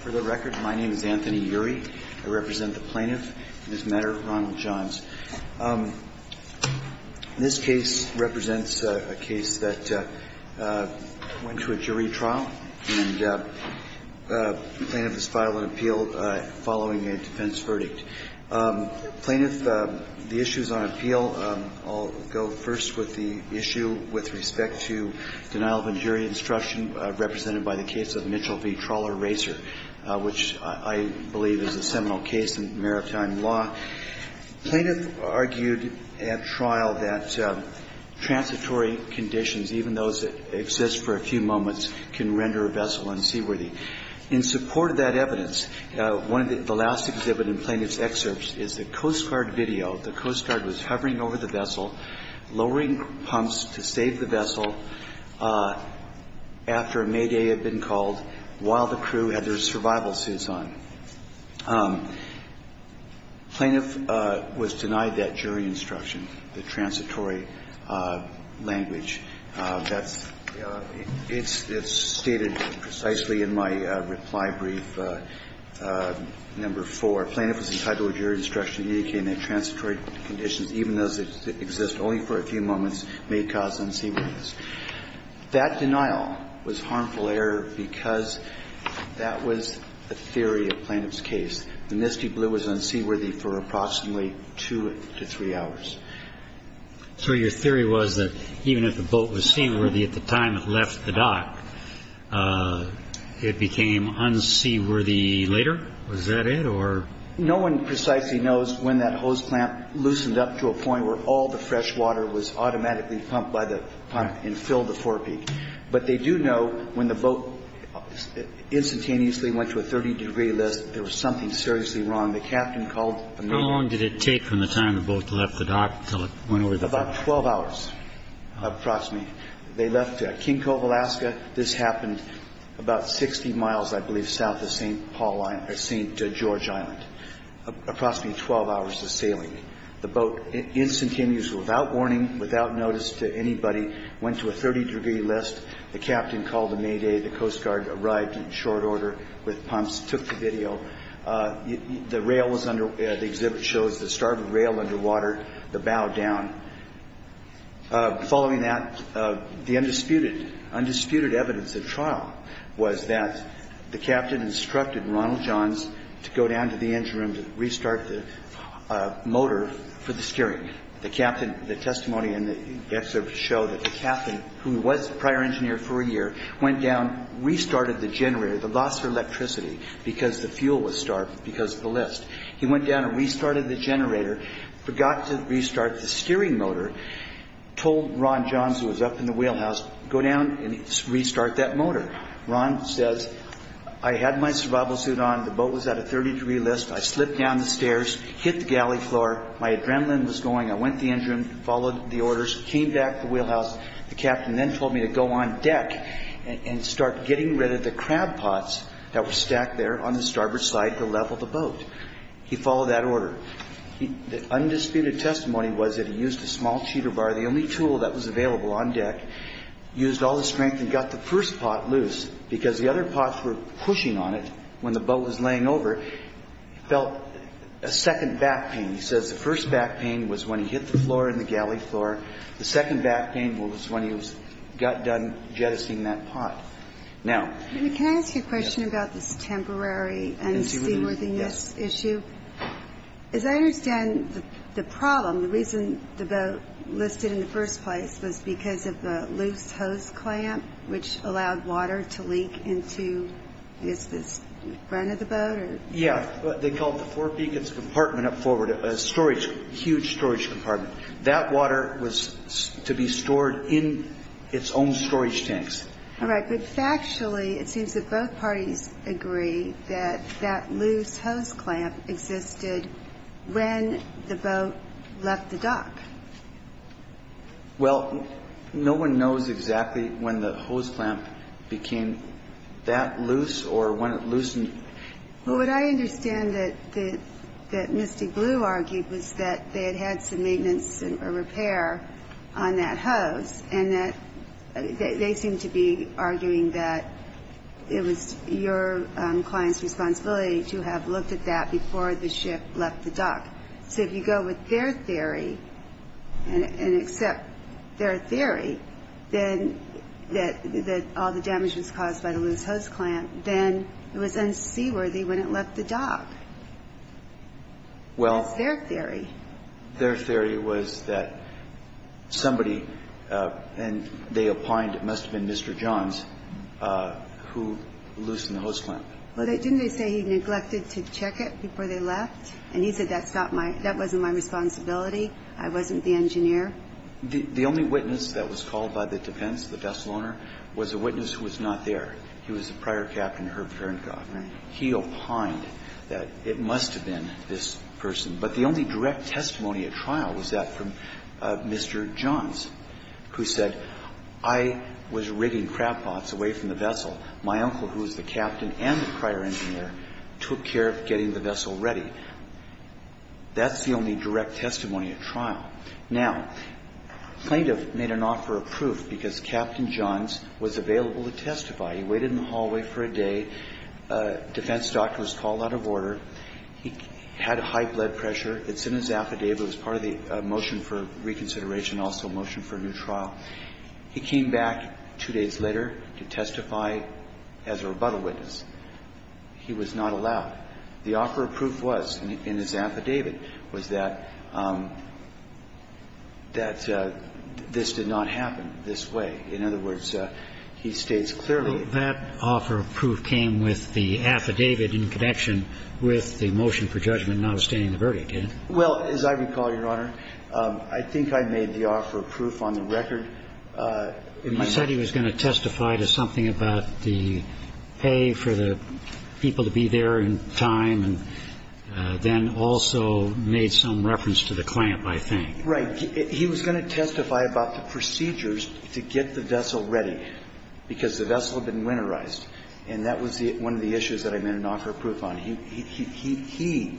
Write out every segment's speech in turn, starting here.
For the record, my name is Anthony Ury. I represent the plaintiff, Ms. Meador Ronald-Jones. This case represents a case that went to a jury trial, and the plaintiff has filed an appeal following a defense verdict. Plaintiff, the issues on appeal, I'll go first with the issue with respect to denial of injury instruction represented by the case of Mitchell v. Trawler Racer, which I believe is a seminal case in maritime law. Plaintiff argued at trial that transitory conditions, even those that exist for a few moments, can render a vessel unseaworthy. In support of that evidence, the last exhibit in plaintiff's excerpts is the Coast Guard video. The Coast Guard was hovering over the vessel, lowering pumps to save the vessel after a mayday had been called while the crew had their survival suits on. Plaintiff was denied that jury instruction, the transitory language. That's – it's stated precisely in my reply brief, number four. Plaintiff was entitled to jury instruction indicating that transitory conditions, even those that exist only for a few moments, may cause unseaworthiness. That denial was harmful error because that was a theory of plaintiff's case. The Misty Blue was unseaworthy for approximately two to three hours. So your theory was that even if the boat was seaworthy at the time it left the dock, it became unseaworthy later? Was that it or – No one precisely knows when that hose clamp loosened up to a point where all the fresh water was automatically pumped by the pump and filled the forepeak. But they do know when the boat instantaneously went to a 30-degree list, there was something seriously wrong. The captain called – How long did it take from the time the boat left the dock until it went over the – About 12 hours, approximately. They left King Cove, Alaska. This happened about 60 miles, I believe, south of St. Paul – St. George Island, approximately 12 hours of sailing. The boat instantaneously, without warning, without notice to anybody, went to a 30-degree list. The captain called a mayday. The Coast Guard arrived in short order with pumps, took the video. The rail was under – the exhibit shows the starboard rail underwater, the bow down. Following that, the undisputed evidence of trial was that the captain instructed Ronald Johns to go down to the engine room to restart the motor for the steering. The captain – the testimony in the exhibit showed that the captain, who was a prior engineer for a year, went down, restarted the generator. The loss of electricity because the fuel was starved because of the list. He went down and restarted the generator, forgot to restart the steering motor, told Ron Johns, who was up in the wheelhouse, go down and restart that motor. Ron says, I had my survival suit on. The boat was at a 30-degree list. I slipped down the stairs, hit the galley floor. My adrenaline was going. I went to the engine room, followed the orders, came back to the wheelhouse. The captain then told me to go on deck and start getting rid of the crab pots that were stacked there on the starboard side to level the boat. He followed that order. The undisputed testimony was that he used a small cheater bar, the only tool that was available on deck, used all the strength and got the first pot loose because the other pots were pushing on it when the boat was laying over. He felt a second back pain. He says the first back pain was when he hit the floor in the galley floor. The second back pain was when he got done jettisoning that pot. Now ‑‑ Can I ask you a question about this temporary unseaworthiness issue? As I understand the problem, the reason the boat listed in the first place was because of the loose hose clamp which allowed water to leak into, is this front of the boat? Yeah. They call it the forepeak. It's a compartment up forward, a storage, a huge storage compartment. That water was to be stored in its own storage tanks. All right. But factually, it seems that both parties agree that that loose hose clamp existed when the boat left the dock. Well, no one knows exactly when the hose clamp became that loose or when it loosened. Well, what I understand that Misty Blue argued was that they had had some maintenance or repair on that hose and that they seemed to be arguing that it was your client's responsibility to have looked at that before the ship left the dock. So if you go with their theory and accept their theory that all the damage was caused by the loose hose clamp, then it was unseaworthy when it left the dock. That's their theory. Their theory was that somebody, and they opined it must have been Mr. Johns, who loosened the hose clamp. Well, didn't they say he neglected to check it before they left? And he said that's not my – that wasn't my responsibility. I wasn't the engineer. The only witness that was called by the defense, the vessel owner, was a witness who was not there. He was the prior captain, Herb Gernkoff. Right. He opined that it must have been this person. But the only direct testimony at trial was that from Mr. Johns, who said, I was rigging crab pots away from the vessel. My uncle, who was the captain and the prior engineer, took care of getting the vessel ready. That's the only direct testimony at trial. Now, plaintiff made an offer of proof because Captain Johns was available to testify. He waited in the hallway for a day. Defense doctors called out of order. He had high blood pressure. It's in his affidavit. It was part of the motion for reconsideration, also a motion for a new trial. He came back two days later to testify as a rebuttal witness. He was not allowed. The offer of proof was in his affidavit was that this did not happen this way. In other words, he states clearly. But that offer of proof came with the affidavit in connection with the motion for judgment not abstaining the verdict, didn't it? Well, as I recall, Your Honor, I think I made the offer of proof on the record. You said he was going to testify to something about the pay for the people to be there in time and then also made some reference to the clamp, I think. Right. He was going to testify about the procedures to get the vessel ready because the vessel had been winterized. And that was one of the issues that I made an offer of proof on. He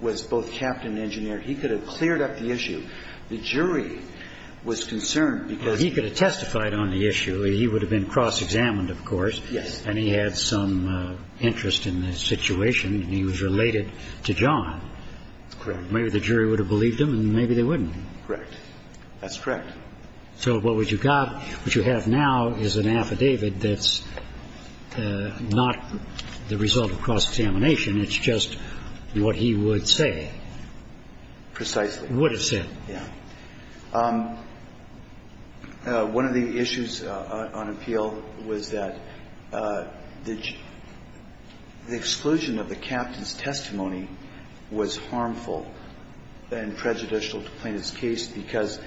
was both captain and engineer. He could have cleared up the issue. The jury was concerned because he could have testified on the issue. He would have been cross-examined, of course. Yes. And he had some interest in the situation, and he was related to John. That's correct. Maybe the jury would have believed him, and maybe they wouldn't. Correct. That's correct. So what you've got, what you have now is an affidavit that's not the result of cross-examination. It's just what he would say. Precisely. Would have said. Yes. One of the issues on appeal was that the exclusion of the captain's testimony was harmful and prejudicial to Plaintiff's case because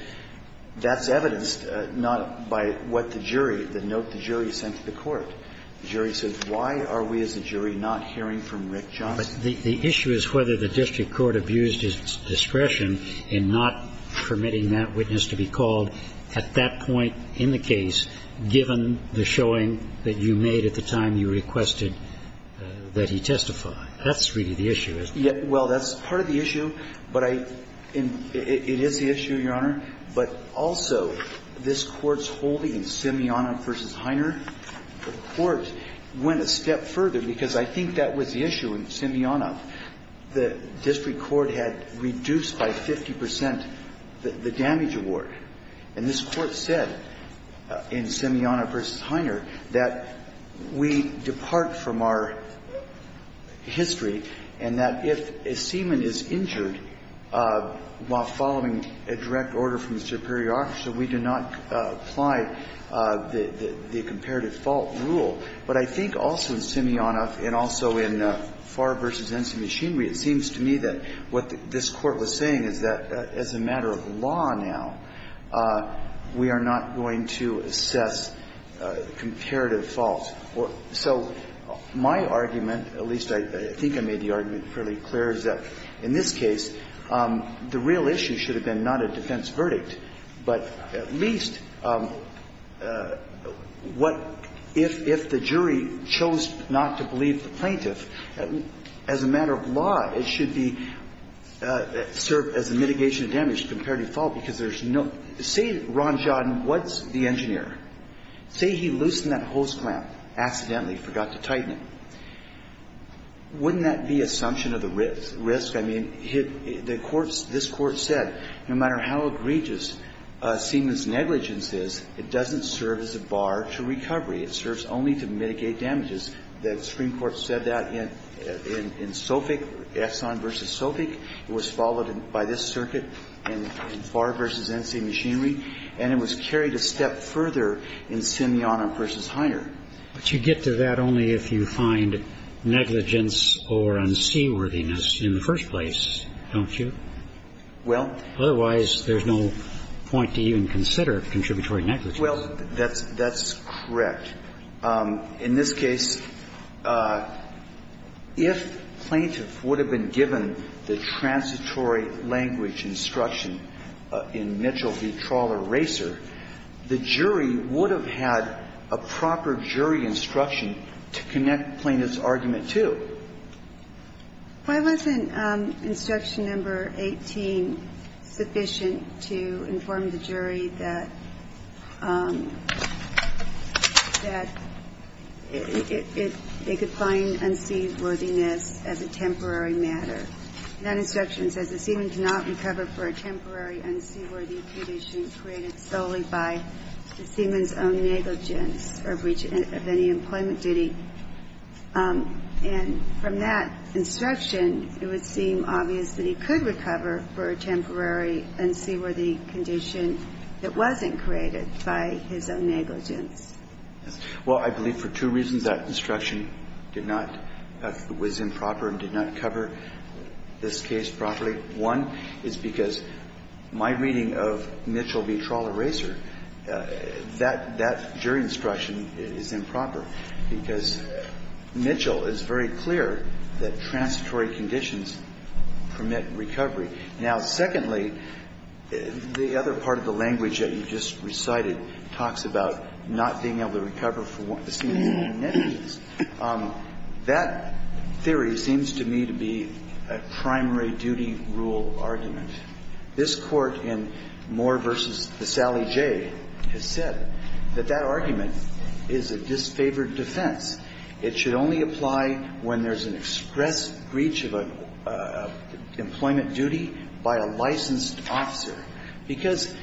that's evidenced not by what the jury, the note the jury sent to the court. The jury says, why are we as a jury not hearing from Rick Johnson? The issue is whether the district court abused its discretion in not permitting that witness to be called at that point in the case, given the showing that you made at the time you requested that he testify. That's really the issue, isn't it? Well, that's part of the issue. But I – it is the issue, Your Honor. But also, this Court's holding in Simeonov v. Heiner, the Court went a step further because I think that was the issue in Simeonov. The district court had reduced by 50 percent the damage award. And this Court said in Simeonov v. Heiner that we depart from our history and that if a seaman is injured while following a direct order from the superior officer, we do not apply the comparative fault rule. But I think also in Simeonov and also in Farr v. Ensign Machinery, it seems to me that what this Court was saying is that as a matter of law now, we are not going to assess comparative fault. So my argument, at least I think I made the argument fairly clear, is that in this case, the real issue should have been not a defense verdict, but at least what if the serve as a mitigation of damage, comparative fault, because there's no – say Ron Jodin was the engineer. Say he loosened that hose clamp accidentally, forgot to tighten it. Wouldn't that be assumption of the risk? I mean, the Court's – this Court said no matter how egregious a seaman's negligence is, it doesn't serve as a bar to recovery. It serves only to mitigate damages. The Supreme Court said that in SOFIC, Exxon v. SOFIC. It was followed by this circuit in Farr v. Ensign Machinery. And it was carried a step further in Simeonov v. Hiner. But you get to that only if you find negligence or unseaworthiness in the first place, don't you? Well – Otherwise, there's no point to even consider contributory negligence. Well, that's correct. In this case, if plaintiff would have been given the transitory language instruction in Mitchell v. Trawler-Racer, the jury would have had a proper jury instruction to connect plaintiff's argument to. Why wasn't instruction number 18 sufficient to inform the jury that it could find unseaworthiness as a temporary matter? That instruction says a seaman cannot recover for a temporary unseaworthy condition created solely by the seaman's own negligence or breach of any employment duty. And from that instruction, it would seem obvious that he could recover for a temporary unseaworthy condition that wasn't created by his own negligence. Well, I believe for two reasons that instruction did not – was improper and did not cover this case properly. One is because my reading of Mitchell v. Trawler-Racer, that jury instruction is improper because Mitchell is very clear that transitory conditions permit recovery. Now, secondly, the other part of the language that you just recited talks about not being able to recover for a seaman's own negligence. That theory seems to me to be a primary duty rule argument. This Court in Moore v. The Sally J. has said that that argument is a disfavored defense. It should only apply when there's an express breach of an employment duty by a licensed officer, because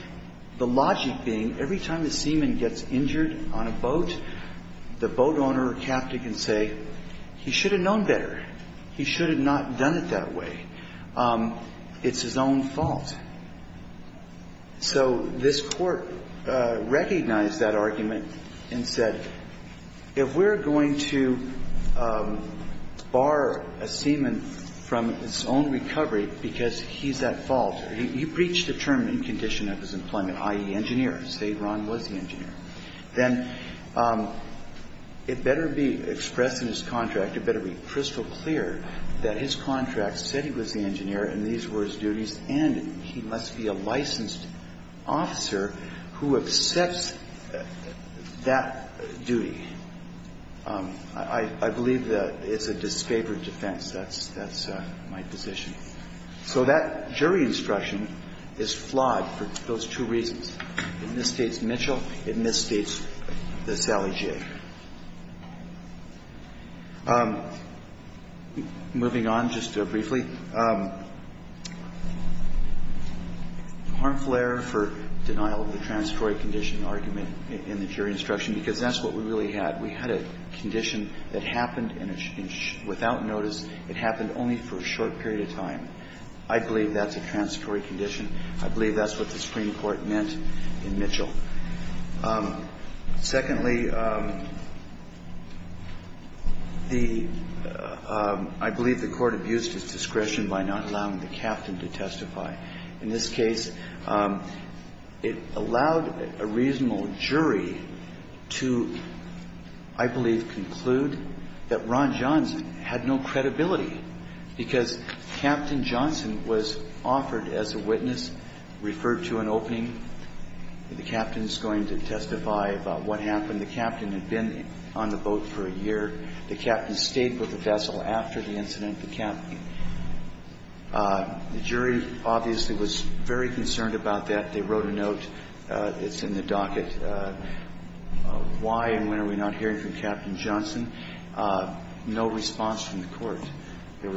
the logic being every time a seaman gets injured on a boat, the boat owner or captain can say, he should have known better. He should have not done it that way. It's his own fault. So this Court recognized that argument and said, if we're going to bar a seaman from his own recovery because he's at fault, or he breached the term in condition of his employment, i.e., engineer, say Ron was the engineer, then it better be expressed in his contract, it better be crystal clear that his contract said he was the engineer and these were his duties, and he must be a licensed officer who accepts that duty. I believe that it's a disfavored defense. That's my position. So that jury instruction is flawed for those two reasons. It misstates Mitchell. It misstates the Sally J. Moving on just briefly. Harmful error for denial of the transitory condition argument in the jury instruction, because that's what we really had. We had a condition that happened without notice. It happened only for a short period of time. I believe that's a transitory condition. I believe that's what the Supreme Court meant in Mitchell. Secondly, the – I believe the Court abused its discretion by not allowing the captain to testify. In this case, it allowed a reasonable jury to, I believe, conclude that Ron Johnson had no credibility, because Captain Johnson was offered as a witness, referred to an opening. The captain is going to testify about what happened. The captain had been on the boat for a year. The captain stayed with the vessel after the incident. The jury obviously was very concerned about that. They wrote a note. It's in the docket. Why and when are we not hearing from Captain Johnson? No response from the Court. I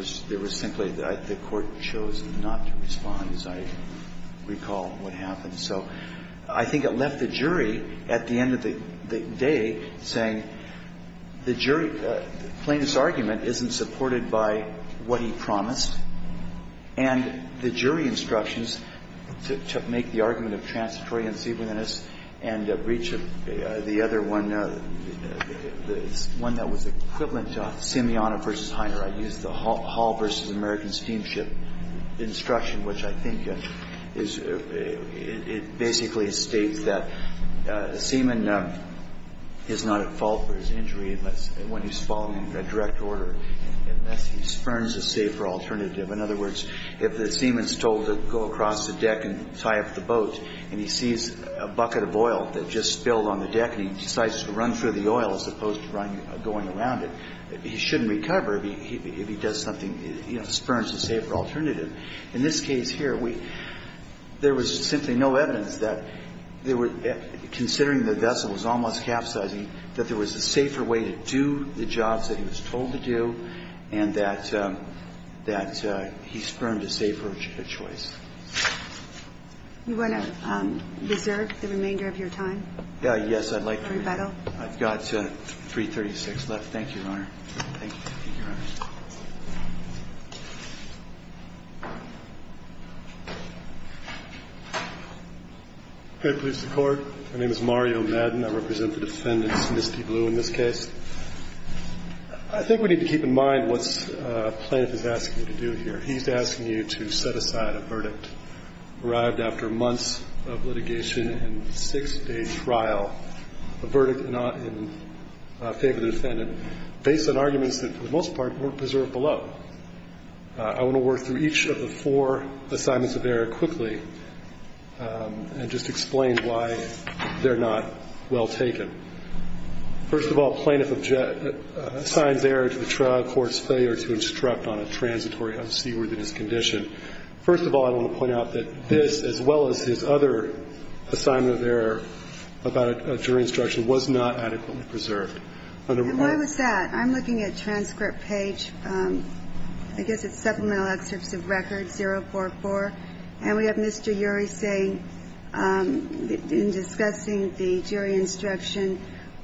think it left the jury, at the end of the day, saying the jury – the plaintiff's argument isn't supported by what he promised. And the jury instructions to make the argument of transitory unceivableness and breach of the other one, the one that was equivalent to Simeona v. Hiner. I used the Hull v. American Steamship instruction, which I think is – it basically states that Simeon is not at fault for his injury unless – when he's fallen in direct order, unless he spurns a safer alternative. In other words, if the seaman's told to go across the deck and tie up the boat and he sees a bucket of oil that just spilled on the deck and he decides to run through the oil as opposed to going around it, he shouldn't recover if he does something – you know, spurns a safer alternative. In this case here, we – there was simply no evidence that there were – considering the vessel was almost capsizing, that there was a safer way to do the jobs that he was told to do and that he spurned a safer choice. You want to reserve the remainder of your time? Yes, I'd like to. I've got 336 left. Thank you, Your Honor. Thank you. Thank you, Your Honor. Good. Police report. My name is Mario Madden. I represent the defendants, Misty Blue, in this case. I think we need to keep in mind what plaintiff is asking you to do here. He's asking you to set aside a verdict arrived after months of litigation and six-day trial, a verdict not in favor of the defendant, based on arguments that, for the most part, weren't preserved below. I want to work through each of the four assignments of error quickly and just explain why they're not well taken. First of all, plaintiff signs error to the trial court's failure to instruct on a transitory unseaworthiness condition. First of all, I want to point out that this, as well as his other assignment of error about a jury instruction, was not adequately preserved. And why was that? I'm looking at transcript page, I guess it's supplemental excerpts of record 044, and we have Mr. Ury saying, in discussing the jury instruction,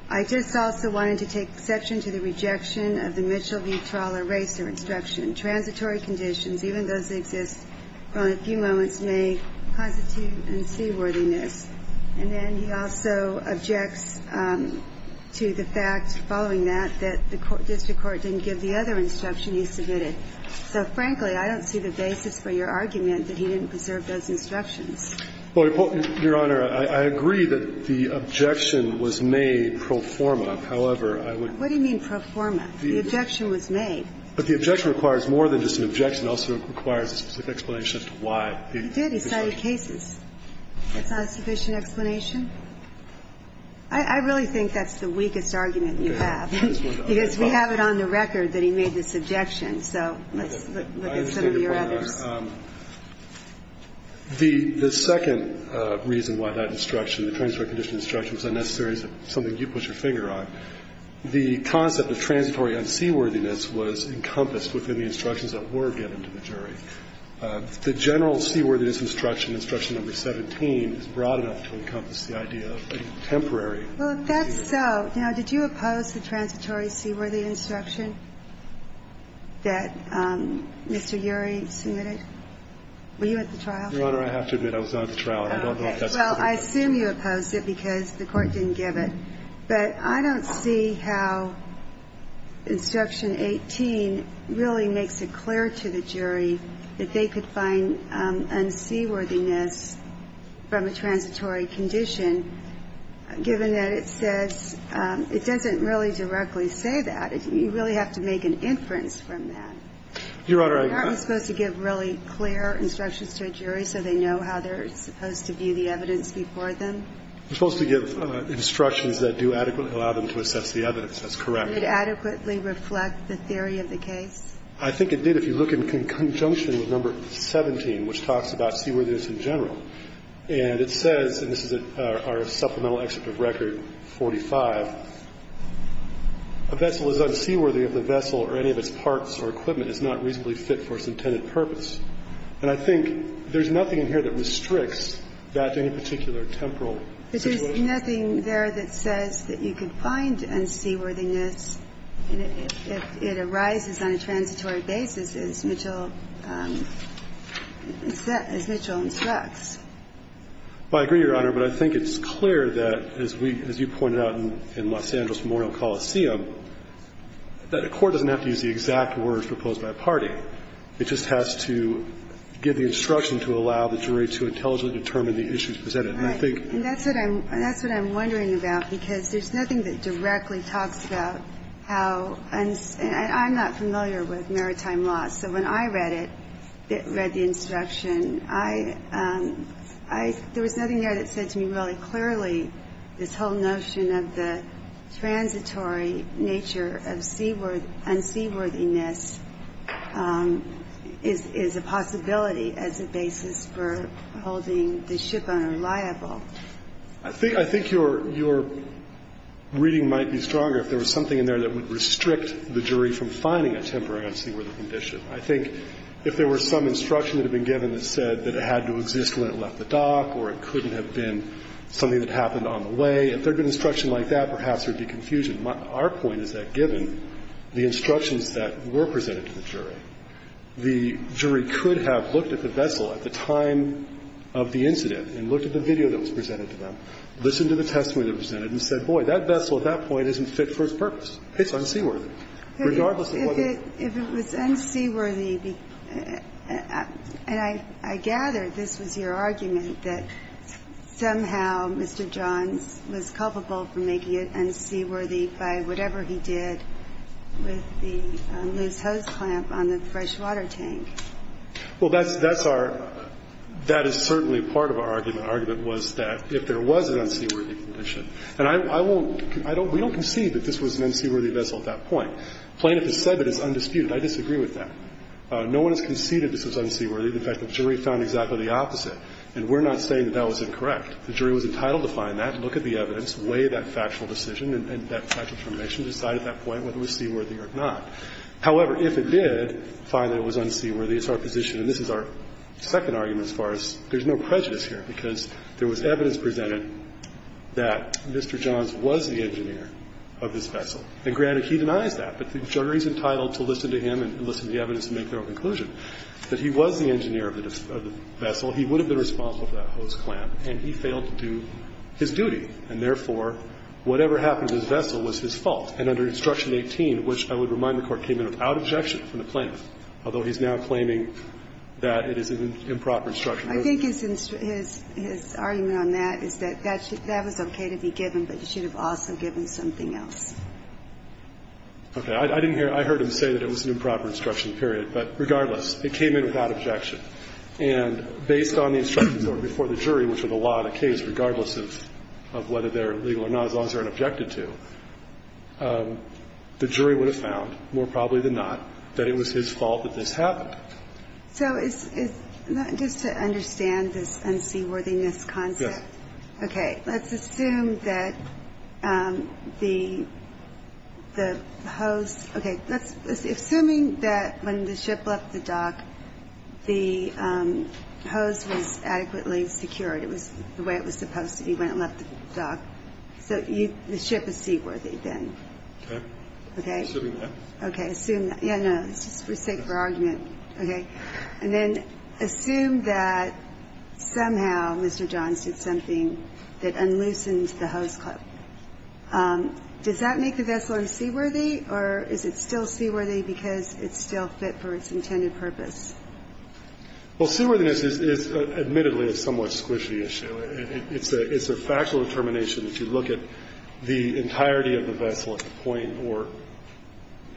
I just also wanted to take exception to the rejection of the Mitchell v. Trawler racer instruction. Transitory conditions, even those that exist for only a few moments, may constitute unseaworthiness. And then he also objects to the fact, following that, that the district court didn't give the other instruction he submitted. So, frankly, I don't see the basis for your argument that he didn't preserve those instructions. Well, Your Honor, I agree that the objection was made pro forma. However, I would What do you mean pro forma? The objection was made. But the objection requires more than just an objection. It also requires a specific explanation as to why. He did. He cited cases. That's not a sufficient explanation? I really think that's the weakest argument you have, because we have it on the record that he made this objection. So let's look at some of your others. I understand your point, Your Honor. The second reason why that instruction, the transport condition instruction, was unnecessary is something you put your finger on. The concept of transitory unseaworthiness was encompassed within the instructions that were given to the jury. The general seaworthiness instruction, instruction number 17, is broad enough to encompass the idea of a temporary. Well, if that's so, now, did you oppose the transitory seaworthy instruction that Mr. Urey submitted? Were you at the trial? Your Honor, I have to admit I was not at the trial. Well, I assume you opposed it because the Court didn't give it. But I don't see how instruction 18 really makes it clear to the jury that they could find unseaworthiness from a transitory condition, given that it says – it doesn't really directly say that. You really have to make an inference from that. Your Honor, I – They're supposed to give really clear instructions to a jury so they know how they're supposed to view the evidence before them? They're supposed to give instructions that do adequately allow them to assess the evidence. That's correct. Did it adequately reflect the theory of the case? I think it did. If you look in conjunction with number 17, which talks about seaworthiness in general, and it says – and this is our supplemental excerpt of Record 45 – a vessel is unseaworthy if the vessel or any of its parts or equipment is not reasonably fit for its intended purpose. And I think there's nothing in here that restricts that to any particular temporal situation. But there's nothing there that says that you can find unseaworthiness if it arises on a transitory basis, as Mitchell – as Mitchell instructs. Well, I agree, Your Honor, but I think it's clear that, as we – as you pointed out in Los Angeles Memorial Coliseum, that a court doesn't have to use the exact words proposed by a party. It just has to give the instruction to allow the jury to intelligently determine the issues presented. And I think – And that's what I'm – that's what I'm wondering about, because there's nothing that directly talks about how – and I'm not familiar with maritime law, so when I read it, read the instruction, I – I – there was nothing there that said to me really clearly this whole notion of the transitory nature of seaworthy and unseaworthiness is – is a possibility as a basis for holding the shipowner liable. I think – I think your – your reading might be stronger if there was something in there that would restrict the jury from finding a temporary unseaworthy condition. I think if there were some instruction that had been given that said that it had to exist when it left the dock or it couldn't have been something that happened on the way, if there had been instruction like that, perhaps there would be confusion. My – our point is that given the instructions that were presented to the jury, the jury could have looked at the vessel at the time of the incident and looked at the video that was presented to them, listened to the testimony that was presented and said, boy, that vessel at that point isn't fit for its purpose. It's unseaworthy, regardless of whether it's – If it was unseaworthy, and I gather this was your argument, that somehow Mr. Johns was culpable for making it unseaworthy by whatever he did with the loose hose clamp on the freshwater tank. Well, that's – that's our – that is certainly part of our argument. Our argument was that if there was an unseaworthy condition, and I won't – I don't – we don't concede that this was an unseaworthy vessel at that point. The plaintiff has said that it's undisputed. I disagree with that. No one has conceded this was unseaworthy. In fact, the jury found exactly the opposite. And we're not saying that that was incorrect. The jury was entitled to find that. Look at the evidence. Weigh that factual decision and that factual determination. Decide at that point whether it was seaworthy or not. However, if it did find that it was unseaworthy, it's our position – and this is our second argument as far as – there's no prejudice here because there was evidence presented that Mr. Johns was the engineer of this vessel. And granted, he denies that. But the jury's entitled to listen to him and listen to the evidence to make their own conclusion that he was the engineer of the vessel. He would have been responsible for that hose clamp. And he failed to do his duty. And therefore, whatever happened to his vessel was his fault. And under Instruction 18, which I would remind the Court came in without objection from the plaintiff, although he's now claiming that it is an improper instruction. I think his argument on that is that that was okay to be given, but you should have also given something else. Okay. I didn't hear – I heard him say that it was an improper instruction, period. But regardless, it came in without objection. And based on the instructions that were before the jury, which are the law of the case, regardless of whether they're legal or not, as long as they're not objected to, the jury would have found, more probably than not, that it was his fault that this happened. So it's – just to understand this unseaworthiness concept. Yes. Okay. Let's assume that the hose – okay. Assuming that when the ship left the dock, the hose was adequately secured. It was the way it was supposed to be when it left the dock. So you – the ship is seaworthy then. Okay. Okay. Assuming that. Okay. Assume – yeah, no, it's just for sake of argument. Okay. And then assume that somehow Mr. Johns did something that unloosened the hose clip. Does that make the vessel unseaworthy, or is it still seaworthy because it's still fit for its intended purpose? Well, seaworthiness is admittedly a somewhat squishy issue. It's a factual determination. If you look at the entirety of the vessel at the point, or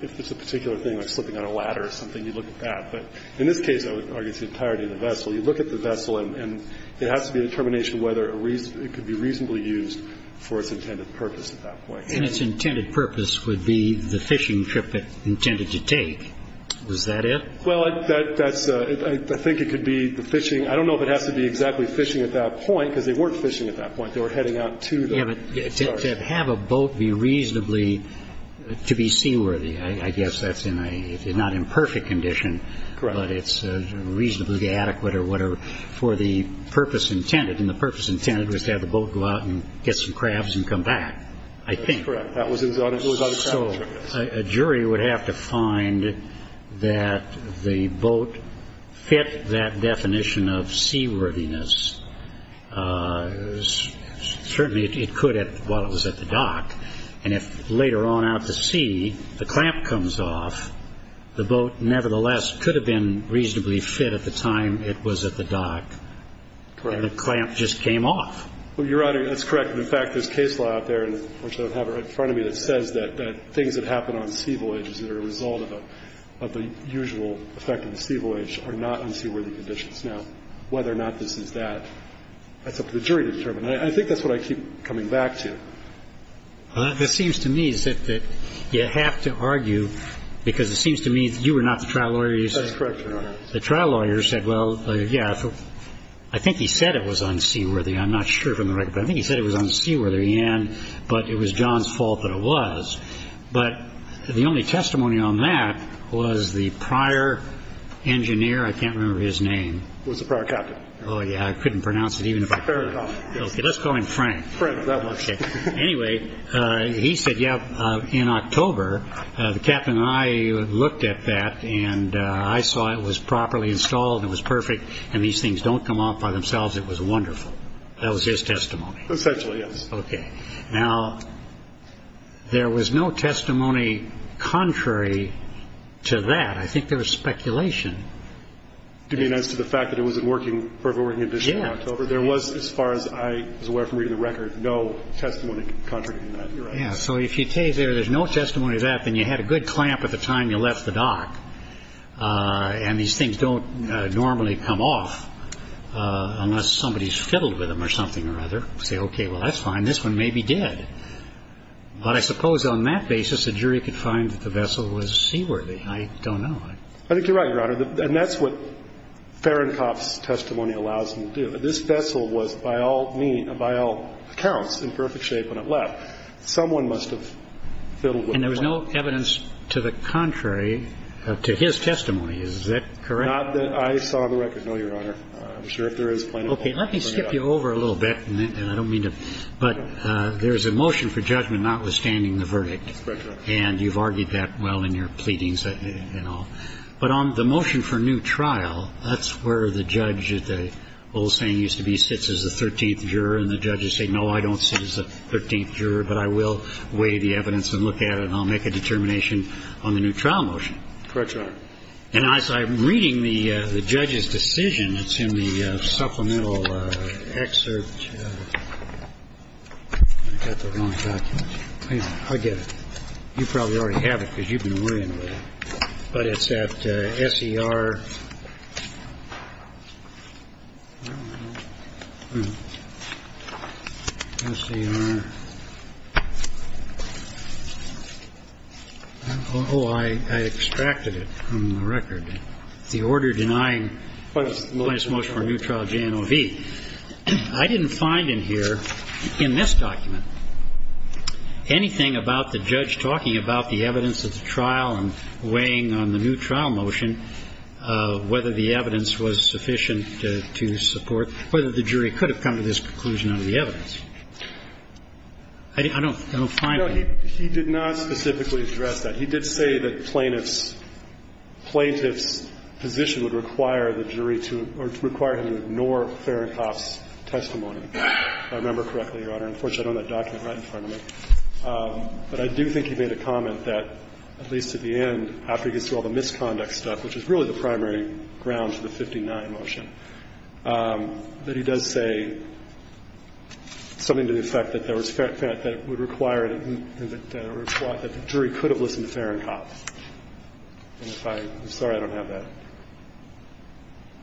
if it's a particular thing like slipping on a ladder or something, you look at that. But in this case, I would argue it's the entirety of the vessel. You look at the vessel, and there has to be a determination whether it could be reasonably used for its intended purpose at that point. And its intended purpose would be the fishing trip it intended to take. Is that it? Well, that's – I think it could be the fishing – I don't know if it has to be exactly fishing at that point, because they weren't fishing at that point. They were heading out to the – sorry. Yeah, but to have a boat be reasonably – to be seaworthy, I guess that's in a – it's not in perfect condition. Correct. But it's reasonably adequate or whatever for the purpose intended. And the purpose intended was to have the boat go out and get some crabs and come back, I think. That's correct. That was on its own trip. So a jury would have to find that the boat fit that definition of seaworthiness. Certainly it could while it was at the dock. And if later on out to sea the clamp comes off, the boat nevertheless could have been reasonably fit at the time it was at the dock. Correct. But it would have been reasonably fit at the time the clamp just came off. Well, Your Honor, that's correct. And, in fact, there's case law out there, which I have right in front of me, that says that things that happen on sea voyages that are a result of the usual effect of the sea voyage are not unseaworthy conditions. Now, whether or not this is that, that's up to the jury to determine. And I think that's what I keep coming back to. This seems to me is that you have to argue, because it seems to me that you were not the trial lawyer. That's correct, Your Honor. The trial lawyer said, well, yeah, I think he said it was unseaworthy. I'm not sure from the record, but I think he said it was unseaworthy, and it was John's fault that it was. But the only testimony on that was the prior engineer. I can't remember his name. It was the prior captain. Oh, yeah, I couldn't pronounce it even if I could. Let's call him Frank. Frank, that works. Anyway, he said, yeah, in October the captain and I looked at that and I saw it was properly installed and it was perfect and these things don't come off by themselves. It was wonderful. That was his testimony. Essentially, yes. Okay. Now, there was no testimony contrary to that. I think there was speculation. You mean as to the fact that it wasn't working for a working condition in October? Yeah. There was, as far as I was aware from reading the record, no testimony contrary to that, Your Honor. Yeah, so if you say there's no testimony to that, then you had a good clamp at the time you left the dock and these things don't normally come off unless somebody's fiddled with them or something or other. You say, okay, well, that's fine. This one may be dead. But I suppose on that basis the jury could find that the vessel was seaworthy. I don't know. I think you're right, Your Honor, and that's what Fahrenkopf's testimony allows them to do. This vessel was, by all accounts, in perfect shape when it left. Someone must have fiddled with it. And there was no evidence to the contrary to his testimony. Is that correct? Not that I saw the record, no, Your Honor. I'm sure if there is plenty of evidence. Okay. Let me skip you over a little bit, and I don't mean to. But there's a motion for judgment notwithstanding the verdict. That's correct, Your Honor. And you've argued that well in your pleadings and all. But on the motion for new trial, that's where the judge, the old saying used to be, sits as the 13th juror, and the judges say, no, I don't sit as the 13th juror, but I will weigh the evidence and look at it, and I'll make a determination on the new trial motion. Correct, Your Honor. And as I'm reading the judge's decision, it's in the supplemental excerpt. I've got the wrong document. I get it. You probably already have it because you've been worrying about it. But it's at S.E.R. S.E.R. Oh, I extracted it from the record. The order denying the plaintiff's motion for a new trial, J.N.O.V. I didn't find in here in this document anything about the judge talking about the evidence of the trial and weighing on the new trial motion whether the evidence was sufficient to support whether the jury could have come to this conclusion under the evidence. I don't find it. No, he did not specifically address that. He did say that plaintiff's position would require the jury to or require him to ignore Fahrenkopf's testimony. If I remember correctly, Your Honor. Unfortunately, I don't have that document right in front of me. But I do think he made a comment that, at least at the end, after he gets to all the misconduct stuff, which is really the primary ground for the 59 motion, that he does say something to the effect that there was that it would require that the jury could have listened to Fahrenkopf. And if I'm sorry, I don't have that.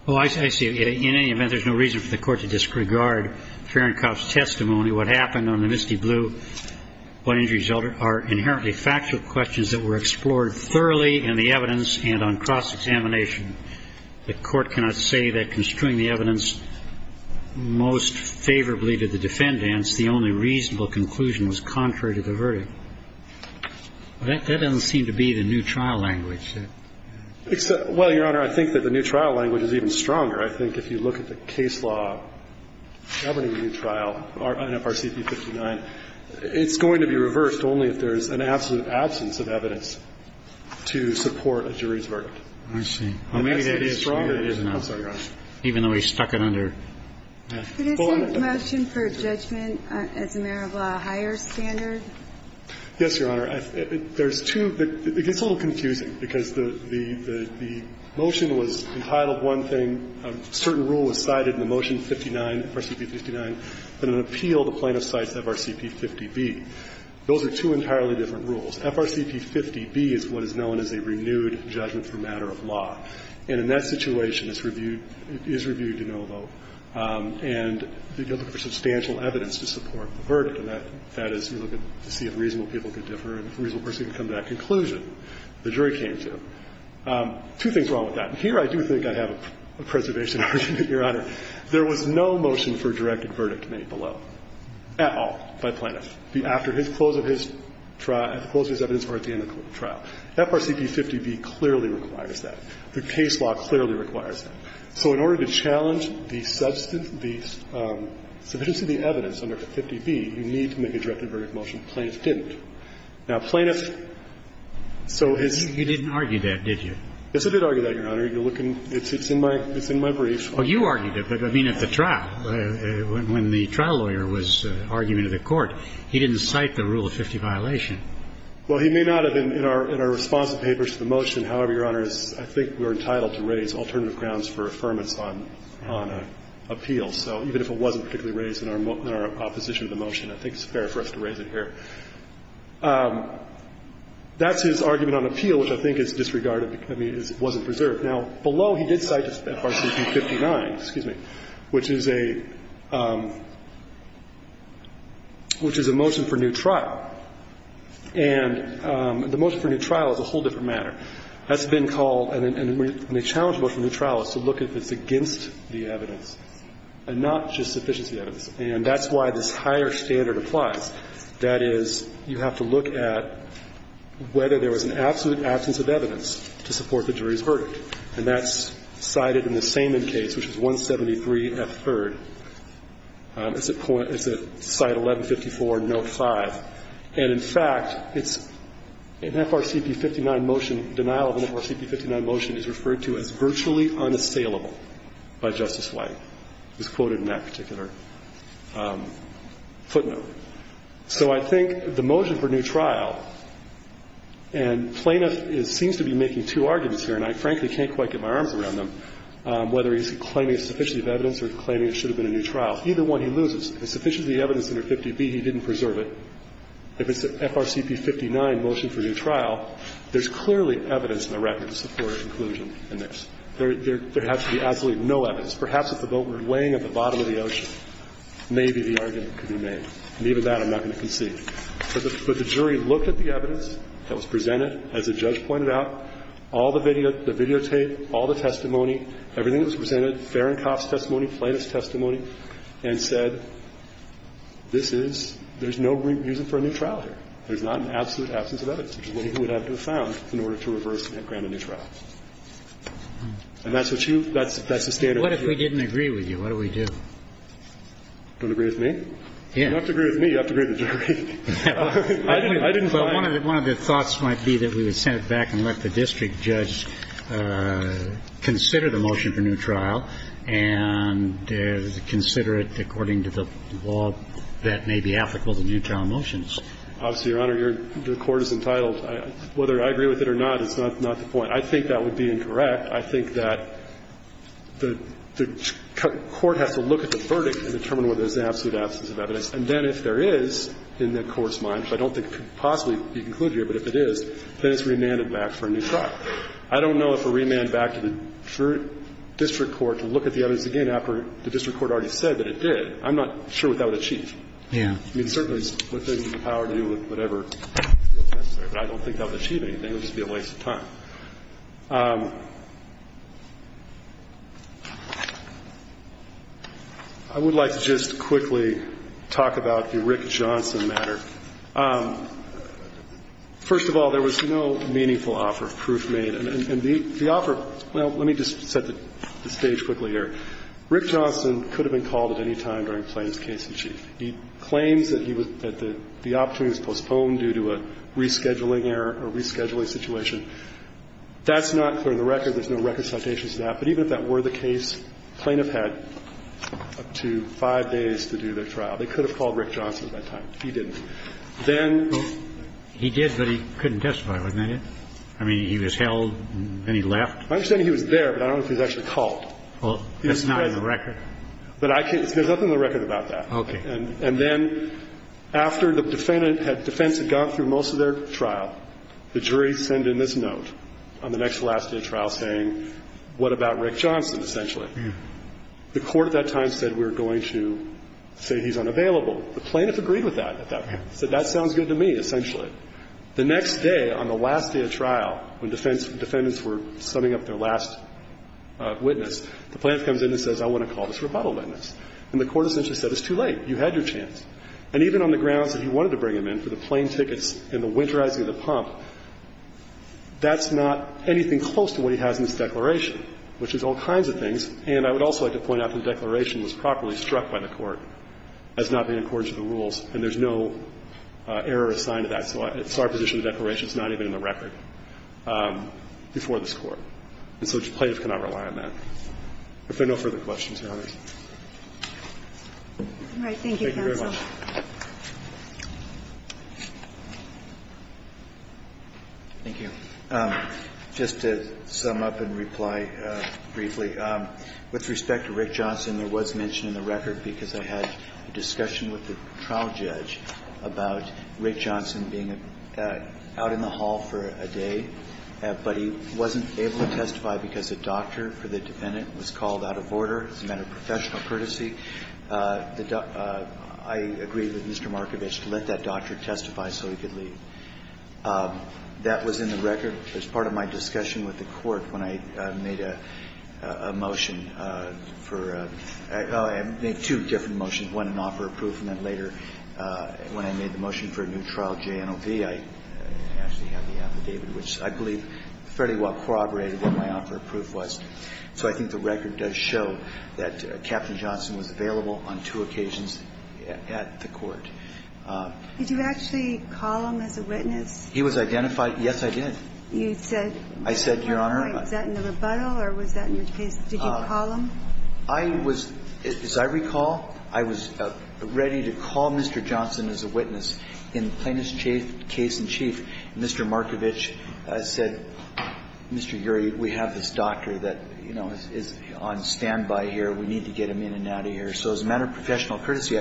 Oh, I see. In any event, there's no reason for the Court to disregard Fahrenkopf's testimony. What happened on the misty blue, what injury resulted, are inherently factual questions that were explored thoroughly in the evidence and on cross-examination. The Court cannot say that construing the evidence most favorably to the defendants, the only reasonable conclusion was contrary to the verdict. That doesn't seem to be the new trial language. Well, Your Honor, I think that the new trial language is even stronger. I think if you look at the case law governing the new trial, NFRC v. 59, it's going to be reversed only if there's an absolute absence of evidence to support a jury's verdict. I see. Well, maybe that is stronger than it is now. I'm sorry, Your Honor. Even though he stuck it under. Could I see a motion for judgment as a matter of a higher standard? Yes, Your Honor. There's two. It gets a little confusing, because the motion was entitled one thing, a certain rule was cited in the motion 59, FRCP 59, that an appeal, the plaintiff cites FRCP 50B. Those are two entirely different rules. FRCP 50B is what is known as a renewed judgment for matter of law. And in that situation, it's reviewed to no vote. And you're looking for substantial evidence to support the verdict. And that is you're looking to see if reasonable people could differ and a reasonable person could come to that conclusion the jury came to. Two things wrong with that. Here I do think I have a preservation argument, Your Honor. There was no motion for directed verdict made below at all by plaintiff after his close of his trial, close of his evidence or at the end of the trial. FRCP 50B clearly requires that. The case law clearly requires that. So in order to challenge the evidence under 50B, you need to make a directed verdict motion. Plaintiff didn't. Now, plaintiff, so his ---- You didn't argue that, did you? Yes, I did argue that, Your Honor. You're looking ---- it's in my brief. Oh, you argued it. But, I mean, at the trial, when the trial lawyer was arguing to the court, he didn't cite the rule of 50 violation. Well, he may not have been in our responsive papers to the motion. However, Your Honor, I think we're entitled to raise alternative grounds for affirmance on an appeal. So even if it wasn't particularly raised in our opposition to the motion, I think it's fair for us to raise it here. That's his argument on appeal, which I think is disregarded because it wasn't preserved. Now, below he did cite FRCP 59, excuse me, which is a motion for new trial. And the motion for new trial is a whole different matter. That's been called and a challenge motion for new trial is to look if it's against the evidence and not just sufficiency evidence. And that's why this higher standard applies. That is, you have to look at whether there was an absolute absence of evidence to support the jury's verdict. And that's cited in the Samen case, which is 173F3rd. It's at point ---- it's at Site 1154, Note 5. And in fact, it's an FRCP 59 motion, denial of an FRCP 59 motion is referred to as virtually unassailable by Justice White. It was quoted in that particular footnote. So I think the motion for new trial, and Plaintiff seems to be making two arguments here, and I frankly can't quite get my arms around them, whether he's claiming a sufficiency of evidence or claiming it should have been a new trial. Either one he loses. If it's sufficiency of evidence under 50B, he didn't preserve it. If it's the FRCP 59 motion for new trial, there's clearly evidence in the record to support inclusion in this. There has to be absolutely no evidence. Perhaps if the boat were laying at the bottom of the ocean, maybe the argument could be made. And even that I'm not going to concede. But the jury looked at the evidence that was presented, as the judge pointed out, all the videotape, all the testimony, everything that was presented, Ferencoff's testimony, and said, this is, there's no reason for a new trial here. There's not an absolute absence of evidence, which is what he would have to have found in order to reverse and grant a new trial. And that's what you, that's the standard view. What if we didn't agree with you? What do we do? Don't agree with me? You don't have to agree with me. You have to agree with the jury. I didn't find it. But one of the thoughts might be that we would send it back and let the district judge consider the motion for new trial. And consider it according to the law that may be applicable to new trial motions. Obviously, Your Honor, the court is entitled. Whether I agree with it or not is not the point. I think that would be incorrect. I think that the court has to look at the verdict and determine whether there's an absolute absence of evidence. And then if there is, in the court's mind, which I don't think could possibly be concluded here, but if it is, then it's remanded back for a new trial. I don't know if a remand back to the district court to look at the evidence again after the district court already said that it did. I'm not sure what that would achieve. Yeah. I mean, certainly it's within the power to do whatever feels necessary. But I don't think that would achieve anything. It would just be a waste of time. I would like to just quickly talk about the Rick Johnson matter. First of all, there was no meaningful offer of proof made. And the offer of – well, let me just set the stage quickly here. Rick Johnson could have been called at any time during Plaintiff's case in chief. He claims that he was – that the opportunity was postponed due to a rescheduling error or rescheduling situation. That's not clear in the record. There's no record citations of that. But even if that were the case, Plaintiff had up to five days to do their trial. They could have called Rick Johnson at that time. He didn't. Then – He did, but he couldn't testify, wasn't he? I mean, he was held and then he left. My understanding, he was there, but I don't know if he was actually called. Well, that's not in the record. But I can't – there's nothing in the record about that. Okay. And then after the defendant had – defense had gone through most of their trial, the jury sent in this note on the next to last day of trial saying, what about Rick Johnson, essentially? Yeah. The court at that time said we're going to say he's unavailable. The plaintiff agreed with that at that point, said that sounds good to me, essentially. The next day on the last day of trial, when defendants were summing up their last witness, the plaintiff comes in and says I want to call this rebuttal witness. And the court essentially said it's too late. You had your chance. And even on the grounds that he wanted to bring him in for the plane tickets and the winterizing of the pump, that's not anything close to what he has in his declaration, which is all kinds of things. And I would also like to point out that the declaration was properly struck by the court as not being in accordance with the rules. And there's no error assigned to that. So it's our position the declaration is not even in the record before this Court. And so the plaintiff cannot rely on that. If there are no further questions, Your Honor. All right. Thank you, counsel. Thank you very much. Thank you. Just to sum up and reply briefly, with respect to Rick Johnson, there was mention in the record because I had a discussion with the trial judge about Rick Johnson being out in the hall for a day, but he wasn't able to testify because a doctor for the defendant was called out of order as a matter of professional courtesy. I agreed with Mr. Markovich to let that doctor testify so he could leave. That was in the record as part of my discussion with the court when I made a motion for two different motions, one in offer of proof and then later when I made the motion for a new trial, JNOV, I actually had the affidavit, which I believe fairly well corroborated what my offer of proof was. So I think the record does show that Captain Johnson was available on two occasions at the court. Did you actually call him as a witness? He was identified. Yes, I did. You said at one point. I said, Your Honor. Was that in the rebuttal or was that in your case? Did you call him? I was, as I recall, I was ready to call Mr. Johnson as a witness. In plaintiff's case in chief, Mr. Markovich said, Mr. Urey, we have this doctor that, you know, is on standby here. We need to get him in and out of here. So as a matter of professional courtesy,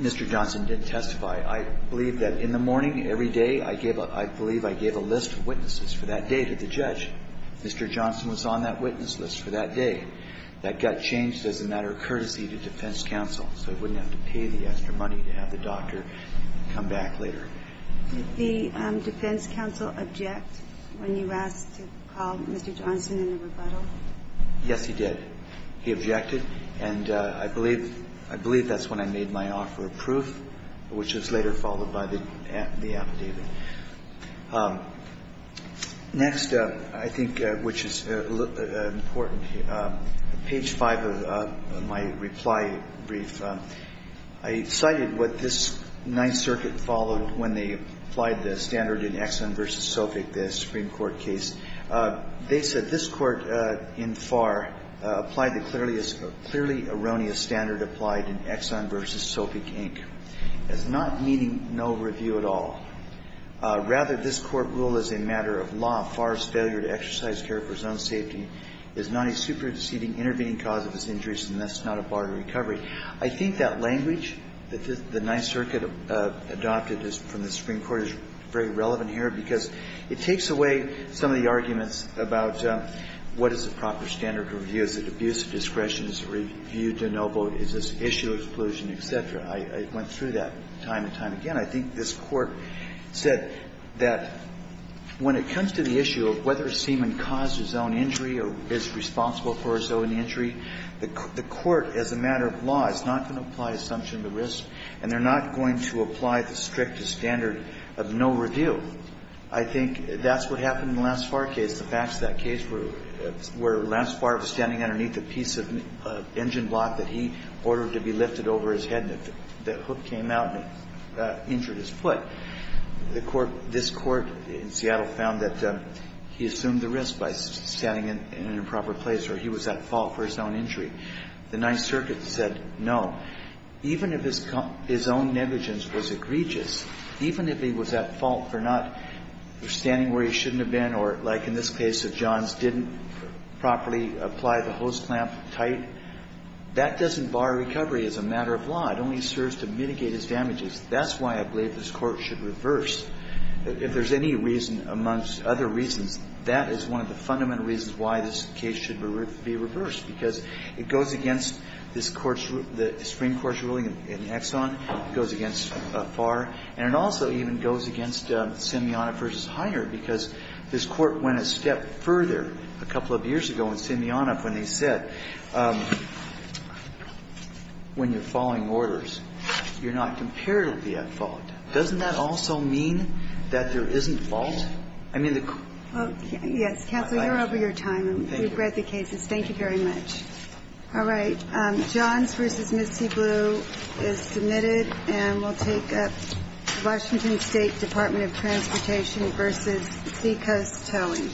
Mr. Johnson didn't testify. I believe that in the morning every day I gave a – I believe I gave a list of witnesses for that day to the judge. Mr. Johnson was on that witness list for that day. That got changed as a matter of courtesy to defense counsel so I wouldn't have to pay the extra money to have the doctor come back later. Did the defense counsel object when you asked to call Mr. Johnson in the rebuttal? Yes, he did. He objected. And I believe – I believe that's when I made my offer of proof, which was later followed by the affidavit. Next, I think, which is important, page 5 of my reply brief, I cited what this Ninth Circuit followed when they applied the standard in Exxon v. Sophic, the Supreme Court case. They said this Court in FAR applied the clearly erroneous standard applied in Exxon v. Sophic, Inc. as not meeting no review at all. Rather, this Court ruled as a matter of law, FAR's failure to exercise care for its own safety is not a superseding intervening cause of its injuries and thus not a bar to recovery. I think that language that the Ninth Circuit adopted from the Supreme Court is very relevant here because it takes away some of the arguments about what is the proper standard to review. Is it abuse of discretion? Is it review to no vote? Is this issue exclusion, et cetera? I went through that time and time again. I think this Court said that when it comes to the issue of whether a seaman caused his own injury or is responsible for his own injury, the Court, as a matter of law, is not going to apply assumption to risk and they're not going to apply the strictest standard of no review. I think that's what happened in the last FAR case. The facts of that case were last FAR was standing underneath a piece of engine block that he ordered to be lifted over his head and the hook came out and injured his foot. The Court, this Court in Seattle, found that he assumed the risk by standing in an improper place or he was at fault for his own injury. The Ninth Circuit said no. Even if his own negligence was egregious, even if he was at fault for not standing where he shouldn't have been or, like in this case of John's, didn't properly apply the hose clamp tight, that doesn't bar recovery as a matter of law. It only serves to mitigate his damages. That's why I believe this Court should reverse. If there's any reason, amongst other reasons, that is one of the fundamental reasons why this case should be reversed, because it goes against this Court's rule, the Supreme Court's ruling in Exxon, it goes against FAR, and it also even goes against Simeona v. Hiner, because this Court went a step further a couple of years ago in Simeona when they said, when you're following orders, you're not comparatively at fault. Doesn't that also mean that there isn't fault? I mean, the quotation. Yes. Counsel, you're over your time. Thank you. We've read the cases. Thank you very much. All right. John's v. Missy Blue is submitted and will take up Washington State Department of Transportation v. Seacoast Towing.